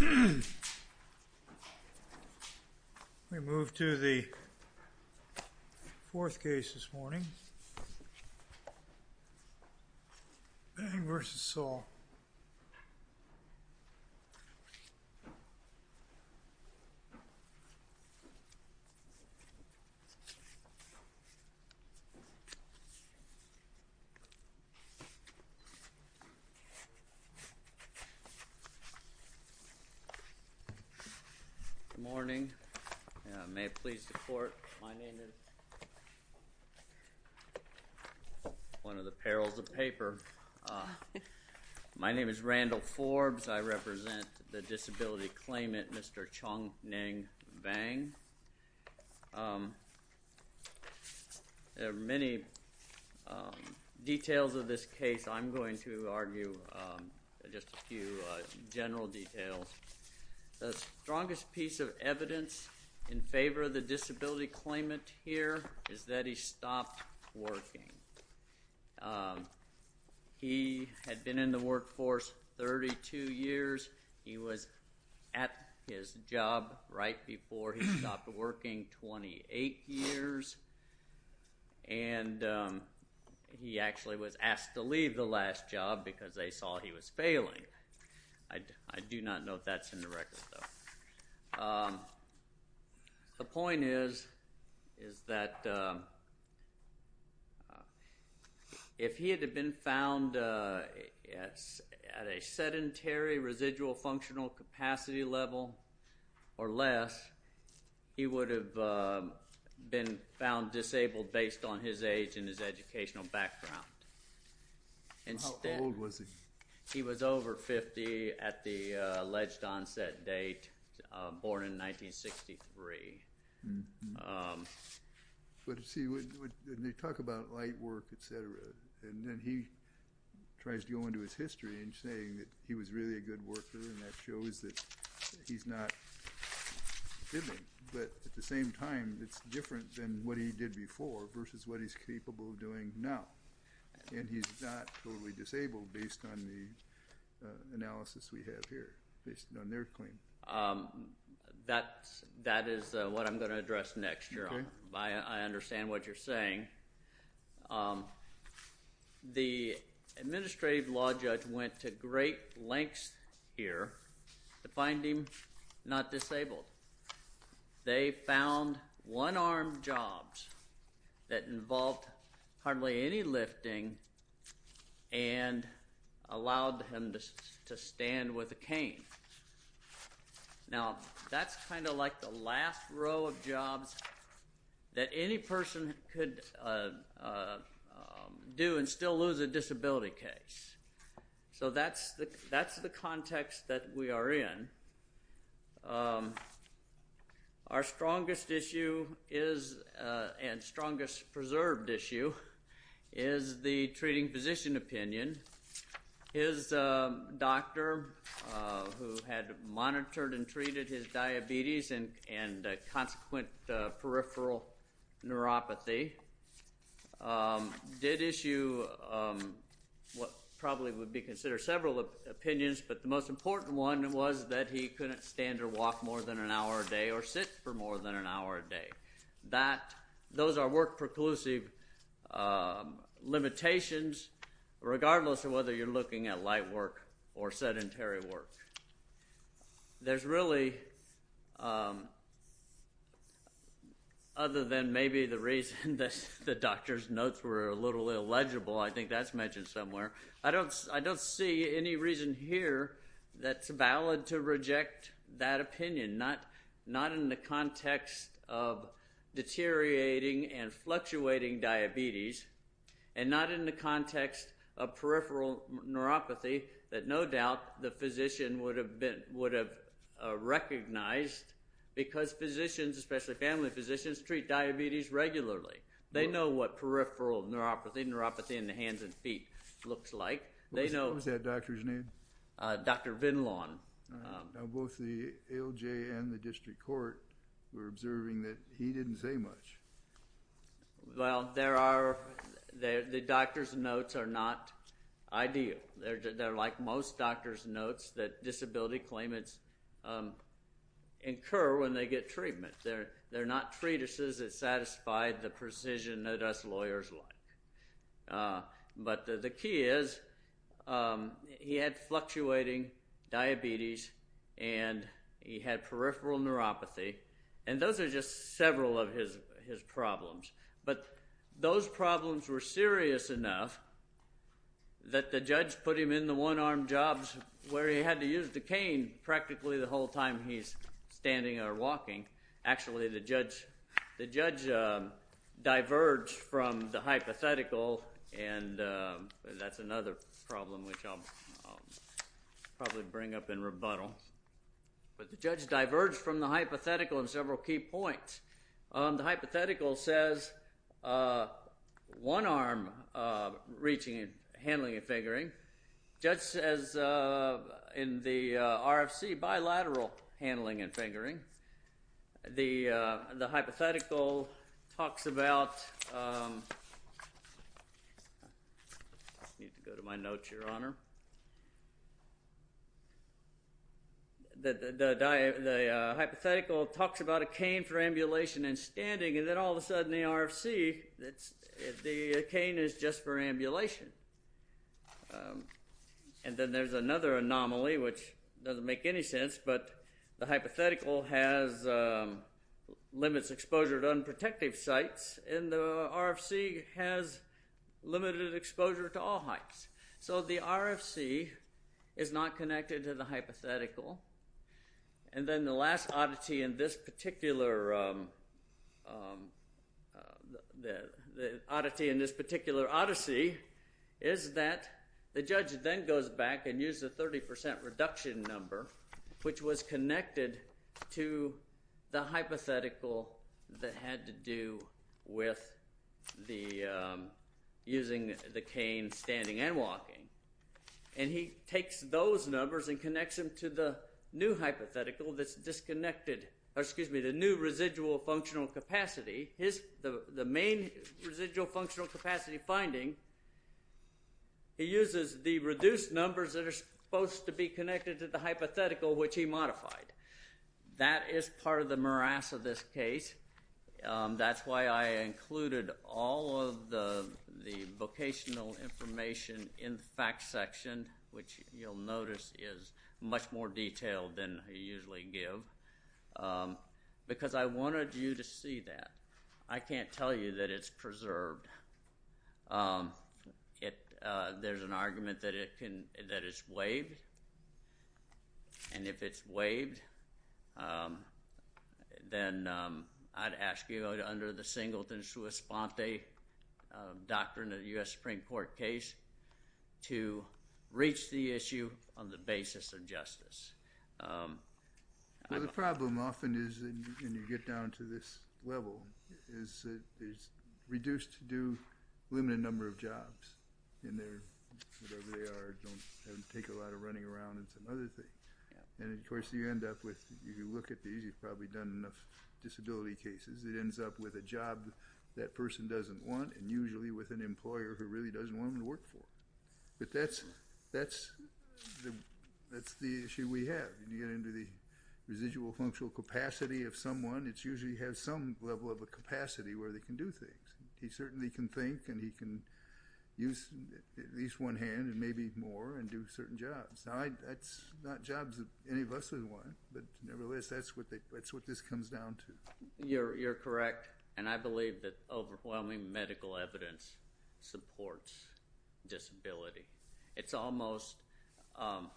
We move to the fourth case this morning, Vang v. Saul. Good morning. May it please the court, my name is one of the perils of paper. My name is Randall Forbes. I represent the disability claimant, Mr. Chongnengwt Vang. There are many details of this case. I'm going to argue just a few general details. The strongest piece of evidence in favor of the disability claimant here is that he stopped working. He had been in the workforce 32 years. He was at his job right before he stopped working, 28 years. And he actually was asked to leave the last job because they saw he was failing. I do not know if that's in the record, though. The point is that if he had been found at a sedentary residual functional capacity level or less, he would have been found disabled based on his age and his educational background. How old was he? He was over 50 at the alleged onset date, born in 1963. But, see, when they talk about light work, et cetera, and then he tries to go into his history and saying that he was really a good worker, and that shows that he's not giving. But at the same time, it's different than what he did before versus what he's capable of doing now. And he's not totally disabled based on the analysis we have here, based on their claim. That is what I'm going to address next, Jerome. I understand what you're saying. The administrative law judge went to great lengths here to find him not disabled. They found one-armed jobs that involved hardly any lifting and allowed him to stand with a cane. Now, that's kind of like the last row of jobs that any person could do and still lose a disability case. So that's the context that we are in. Our strongest issue and strongest preserved issue is the treating physician opinion. His doctor, who had monitored and treated his diabetes and consequent peripheral neuropathy, did issue what probably would be considered several opinions, but the most important one was that he couldn't stand or walk more than an hour a day or sit for more than an hour a day. Those are work-preclusive limitations, regardless of whether you're looking at light work or sedentary work. Other than maybe the reason that the doctor's notes were a little illegible, I think that's mentioned somewhere, I don't see any reason here that's valid to reject that opinion, not in the context of deteriorating and fluctuating diabetes and not in the context of peripheral neuropathy that no doubt the physician would have recognized because physicians, especially family physicians, treat diabetes regularly. They know what peripheral neuropathy, neuropathy in the hands and feet, looks like. What was that doctor's name? Dr. Vinlon. Now both the ALJ and the district court were observing that he didn't say much. Well, the doctor's notes are not ideal. They're like most doctor's notes that disability claimants incur when they get treatment. They're not treatises that satisfy the precision that us lawyers like. But the key is he had fluctuating diabetes and he had peripheral neuropathy, and those are just several of his problems. But those problems were serious enough that the judge put him in the one-arm jobs where he had to use the cane practically the whole time he's standing or walking. Actually, the judge diverged from the hypothetical, and that's another problem which I'll probably bring up in rebuttal. But the judge diverged from the hypothetical in several key points. The hypothetical says one arm reaching and handling a fingering. The judge says in the RFC bilateral handling and fingering. The hypothetical talks about a cane for ambulation and standing, and then all of a sudden in the RFC the cane is just for ambulation. And then there's another anomaly which doesn't make any sense, but the hypothetical limits exposure to unprotected sites, and the RFC has limited exposure to all heights. So the RFC is not connected to the hypothetical. And then the last oddity in this particular odyssey is that the judge then goes back and uses a 30% reduction number which was connected to the hypothetical that had to do with using the cane standing and walking. And he takes those numbers and connects them to the new hypothetical that's disconnected, or excuse me, the new residual functional capacity. The main residual functional capacity finding, he uses the reduced numbers that are supposed to be connected to the hypothetical which he modified. That is part of the morass of this case. That's why I included all of the vocational information in the facts section, which you'll notice is much more detailed than I usually give, because I wanted you to see that. I can't tell you that it's preserved. There's an argument that it's waived, and if it's waived, then I'd ask you under the singleton sua sponte doctrine of the U.S. Supreme Court case to reach the issue on the basis of justice. Well, the problem often is, and you get down to this level, is it's reduced to do a limited number of jobs in whatever they are. It doesn't take a lot of running around and some other things. And, of course, you end up with, if you look at these, you've probably done enough disability cases, it ends up with a job that person doesn't want and usually with an employer who really doesn't want them to work for. But that's the issue we have. When you get into the residual functional capacity of someone, it usually has some level of a capacity where they can do things. He certainly can think and he can use at least one hand and maybe more and do certain jobs. Now, that's not jobs that any of us would want, but nevertheless, that's what this comes down to. You're correct, and I believe that overwhelming medical evidence supports disability. It's almost laughable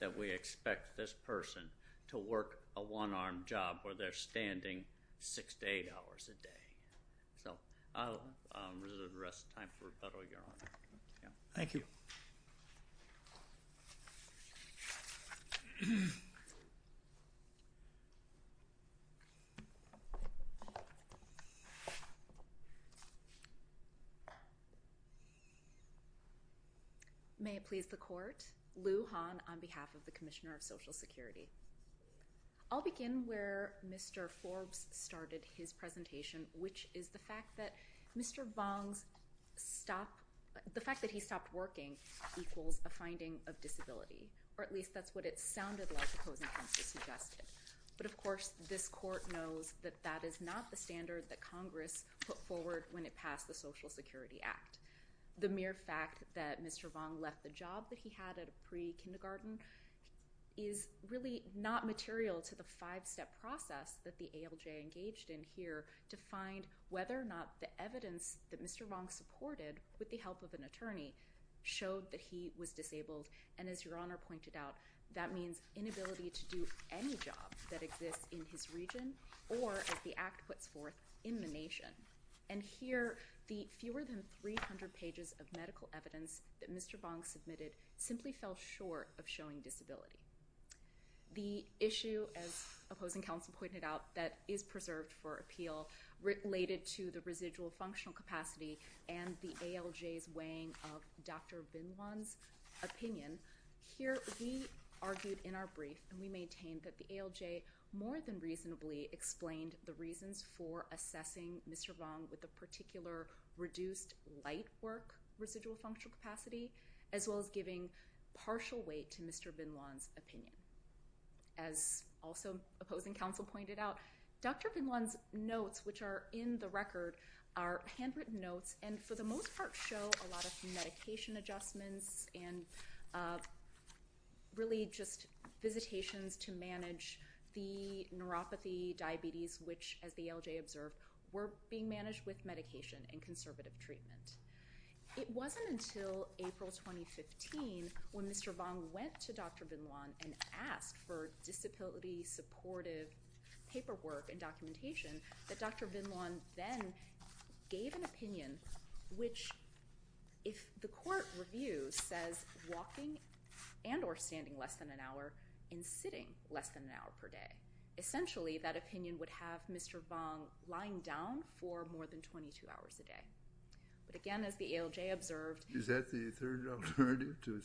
that we expect this person to work a one-armed job where they're standing six to eight hours a day. So I'll reserve the rest of the time for rebuttal, Your Honor. Thank you. May it please the Court. Lou Han on behalf of the Commissioner of Social Security. I'll begin where Mr. Forbes started his presentation, which is the fact that Mr. Vong's stop – the fact that he stopped working equals a finding of disability, or at least that's what it sounded like the opposing counsel suggested. But of course, this Court knows that that is not the standard that Congress put forward when it passed the Social Security Act. The mere fact that Mr. Vong left the job that he had at a pre-kindergarten is really not material to the five-step process that the ALJ engaged in here to find whether or not the evidence that Mr. Vong supported with the help of an attorney showed that he was disabled. And as Your Honor pointed out, that means inability to do any job that exists in his region or, as the Act puts forth, in the nation. And here, the fewer than 300 pages of medical evidence that Mr. Vong submitted simply fell short of showing disability. The issue, as opposing counsel pointed out, that is preserved for appeal related to the residual functional capacity and the ALJ's weighing of Dr. Binlon's opinion. Here, we argued in our brief and we maintained that the ALJ more than reasonably explained the reasons for assessing Mr. Vong with a particular reduced light work residual functional capacity, as well as giving partial weight to Mr. Binlon's opinion. As also opposing counsel pointed out, Dr. Binlon's notes, which are in the record, are handwritten notes and for the most part show a lot of medication adjustments and really just visitations to manage the neuropathy, diabetes, which, as the ALJ observed, were being managed with medication and conservative treatment. It wasn't until April 2015 when Mr. Vong went to Dr. Binlon and asked for disability supportive paperwork and documentation that Dr. Binlon then gave an opinion which, if the court reviews, says walking and or standing less than an hour and sitting less than an hour per day, essentially that opinion would have Mr. Vong lying down for more than 22 hours a day. But again, as the ALJ observed... Is that the third alternative to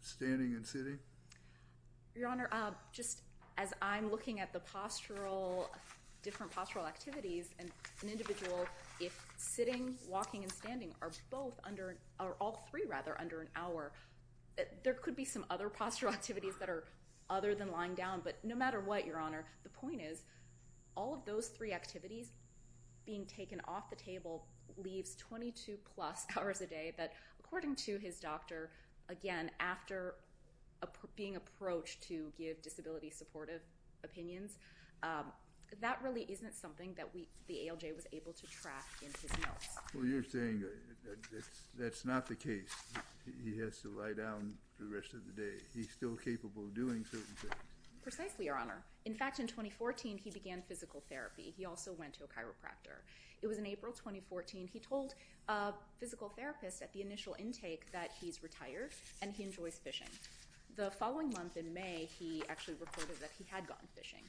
standing and sitting? Your Honor, just as I'm looking at the different postural activities and an individual, if sitting, walking and standing are all three under an hour, there could be some other postural activities that are other than lying down, but no matter what, Your Honor, the point is all of those three activities being taken off the table leaves 22 plus hours a day that, according to his doctor, again, after being approached to give disability supportive opinions, that really isn't something that the ALJ was able to track in his notes. Well, you're saying that's not the case. He has to lie down for the rest of the day. He's still capable of doing certain things. Precisely, Your Honor. In fact, in 2014, he began physical therapy. He also went to a chiropractor. It was in April 2014. He told a physical therapist at the initial intake that he's retired and he enjoys fishing. The following month in May, he actually reported that he had gone fishing.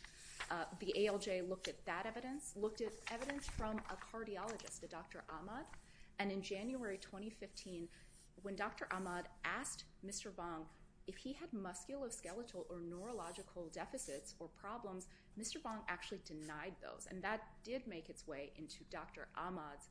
The ALJ looked at that evidence, looked at evidence from a cardiologist, a Dr. Ahmad, and in January 2015, when Dr. Ahmad asked Mr. Vong if he had musculoskeletal or neurological deficits or problems, Mr. Vong actually denied those, and that did make its way into Dr. Ahmad's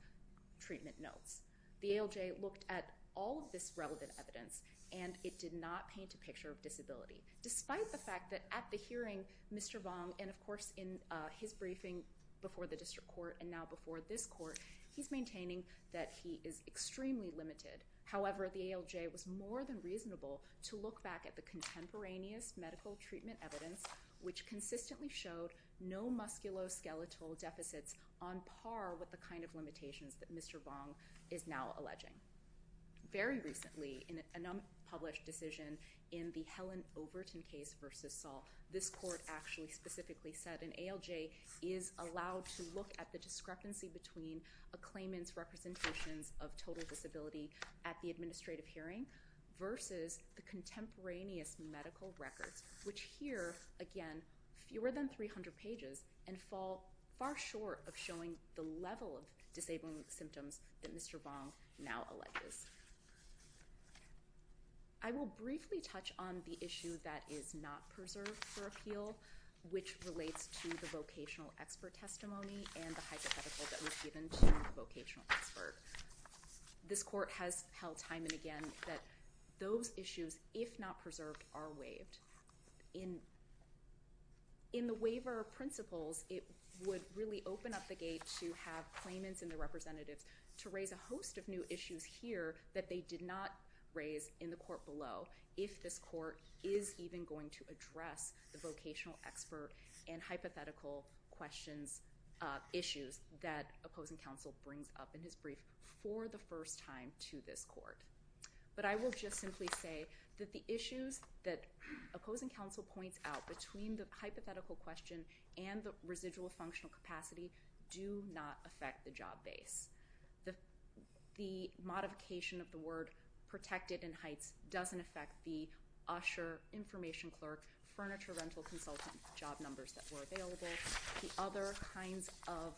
treatment notes. The ALJ looked at all of this relevant evidence, and it did not paint a picture of disability, despite the fact that at the hearing, Mr. Vong, and, of course, in his briefing before the district court and now before this court, he's maintaining that he is extremely limited. However, the ALJ was more than reasonable to look back at the contemporaneous medical treatment evidence, which consistently showed no musculoskeletal deficits on par with the kind of limitations that Mr. Vong is now alleging. Very recently, in a published decision in the Helen Overton case versus Saul, this court actually specifically said an ALJ is allowed to look at the discrepancy between a claimant's representations of total disability at the administrative hearing versus the contemporaneous medical records, which here, again, fewer than 300 pages, and fall far short of showing the level of disabling symptoms that Mr. Vong now alleges. I will briefly touch on the issue that is not preserved for appeal, which relates to the vocational expert testimony and the hypothetical that was given to the vocational expert. This court has held time and again that those issues, if not preserved, are waived. In the waiver of principles, it would really open up the gate to have claimants and the representatives to raise a host of new issues here that they did not raise in the court below if this court is even going to address the vocational expert and hypothetical questions, issues that opposing counsel brings up in his brief for the first time to this court. But I will just simply say that the issues that opposing counsel points out between the hypothetical question and the residual functional capacity do not affect the job base. The modification of the word protected in Heights doesn't affect the usher, information clerk, furniture rental consultant job numbers that were available. The other kinds of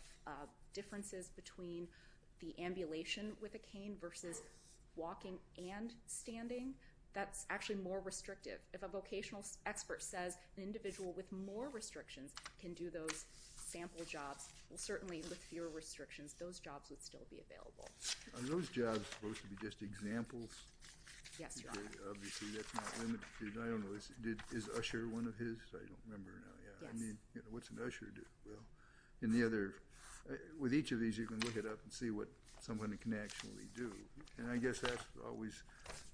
differences between the ambulation with a cane versus walking and standing, that's actually more restrictive. If a vocational expert says an individual with more restrictions can do those sample jobs, well, certainly with fewer restrictions, those jobs would still be available. Are those jobs supposed to be just examples? Yes, Your Honor. Obviously, that's not limited. I don't know. Is usher one of his? I don't remember now. I mean, what's an usher do? Well, with each of these, you can look it up and see what someone can actually do. And I guess that's always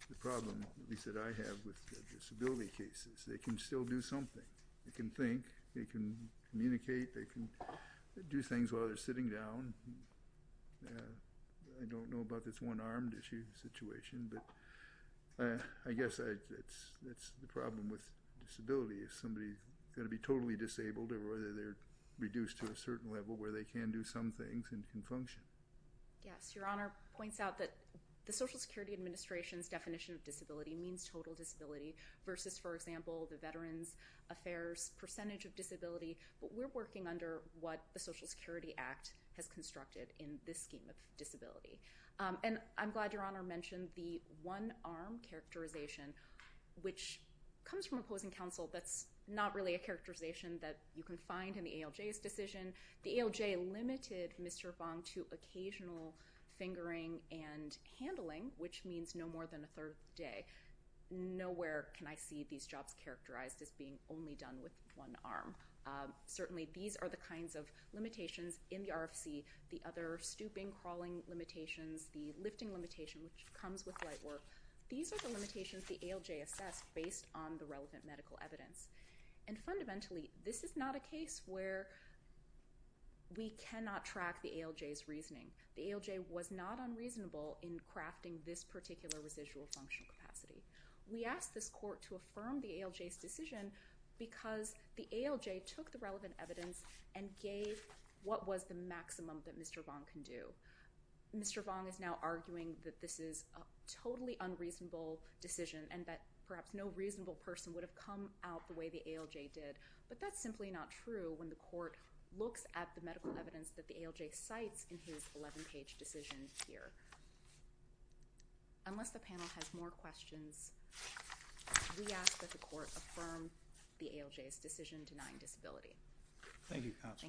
the problem, at least that I have, with disability cases. They can still do something. They can think. They can communicate. They can do things while they're sitting down. I don't know about this one-armed issue situation, but I guess that's the problem with disability. Is somebody going to be totally disabled or whether they're reduced to a certain level where they can do some things and function? Yes. Your Honor points out that the Social Security Administration's definition of disability means total disability versus, for example, the Veterans Affairs percentage of disability. But we're working under what the Social Security Act has constructed in this scheme of disability. And I'm glad Your Honor mentioned the one-arm characterization, which comes from opposing counsel. That's not really a characterization that you can find in the ALJ's decision. The ALJ limited Mr. Fong to occasional fingering and handling, which means no more than a third day. Nowhere can I see these jobs characterized as being only done with one arm. Certainly, these are the kinds of limitations in the RFC, the other stooping, crawling limitations, the lifting limitation, which comes with light work. These are the limitations the ALJ assessed based on the relevant medical evidence. And fundamentally, this is not a case where we cannot track the ALJ's reasoning. The ALJ was not unreasonable in crafting this particular residual function capacity. We asked this court to affirm the ALJ's decision because the ALJ took the relevant evidence and gave what was the maximum that Mr. Fong can do. Mr. Fong is now arguing that this is a totally unreasonable decision and that perhaps no reasonable person would have come out the way the ALJ did. But that's simply not true when the court looks at the medical evidence that the ALJ cites in his 11-page decision here. Unless the panel has more questions, we ask that the court affirm the ALJ's decision denying disability. Thank you, counsel.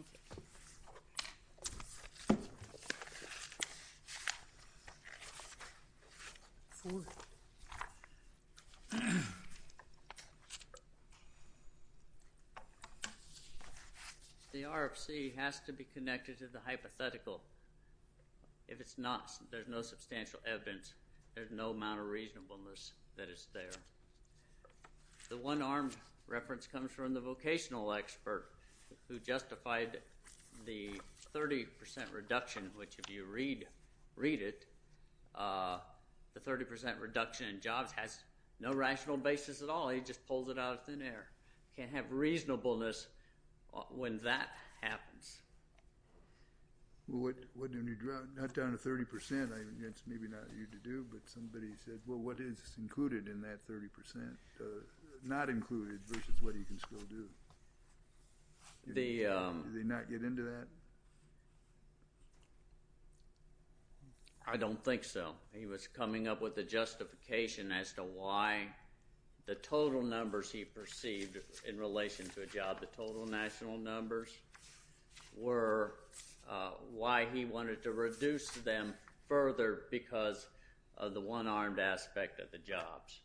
The RFC has to be connected to the hypothetical. If it's not, there's no substantial evidence. There's no amount of reasonableness that is there. The one-armed reference comes from the vocational expert who justified the 30% reduction, which if you read it, the 30% reduction in jobs has no rational basis at all. He just pulls it out of thin air. You can't have reasonableness when that happens. Well, not down to 30%. It's maybe not for you to do, but somebody said, well, what is included in that 30%? Not included versus what you can still do. Did he not get into that? I don't think so. He was coming up with a justification as to why the total numbers he perceived in relation to a job, the total national numbers, were why he wanted to reduce them further because of the one-armed aspect of the jobs.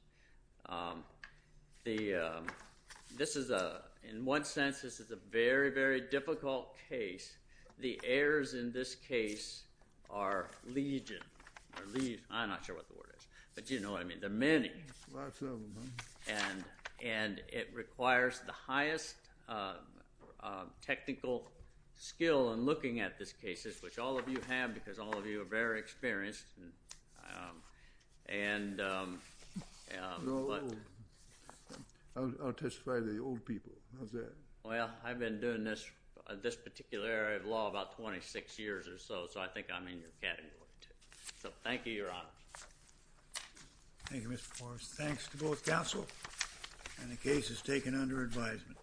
In one sense, this is a very, very difficult case. The errors in this case are legion. I'm not sure what the word is, but you know what I mean. There are many. Lots of them. And it requires the highest technical skill in looking at this case, which all of you have because all of you are very experienced. I'll testify to the old people. How's that? Well, I've been doing this particular area of law about 26 years or so, so I think I'm in your category, too. So thank you, Your Honor. Thank you, Mr. Forbes. Thanks to both counsel, and the case is taken under advisement.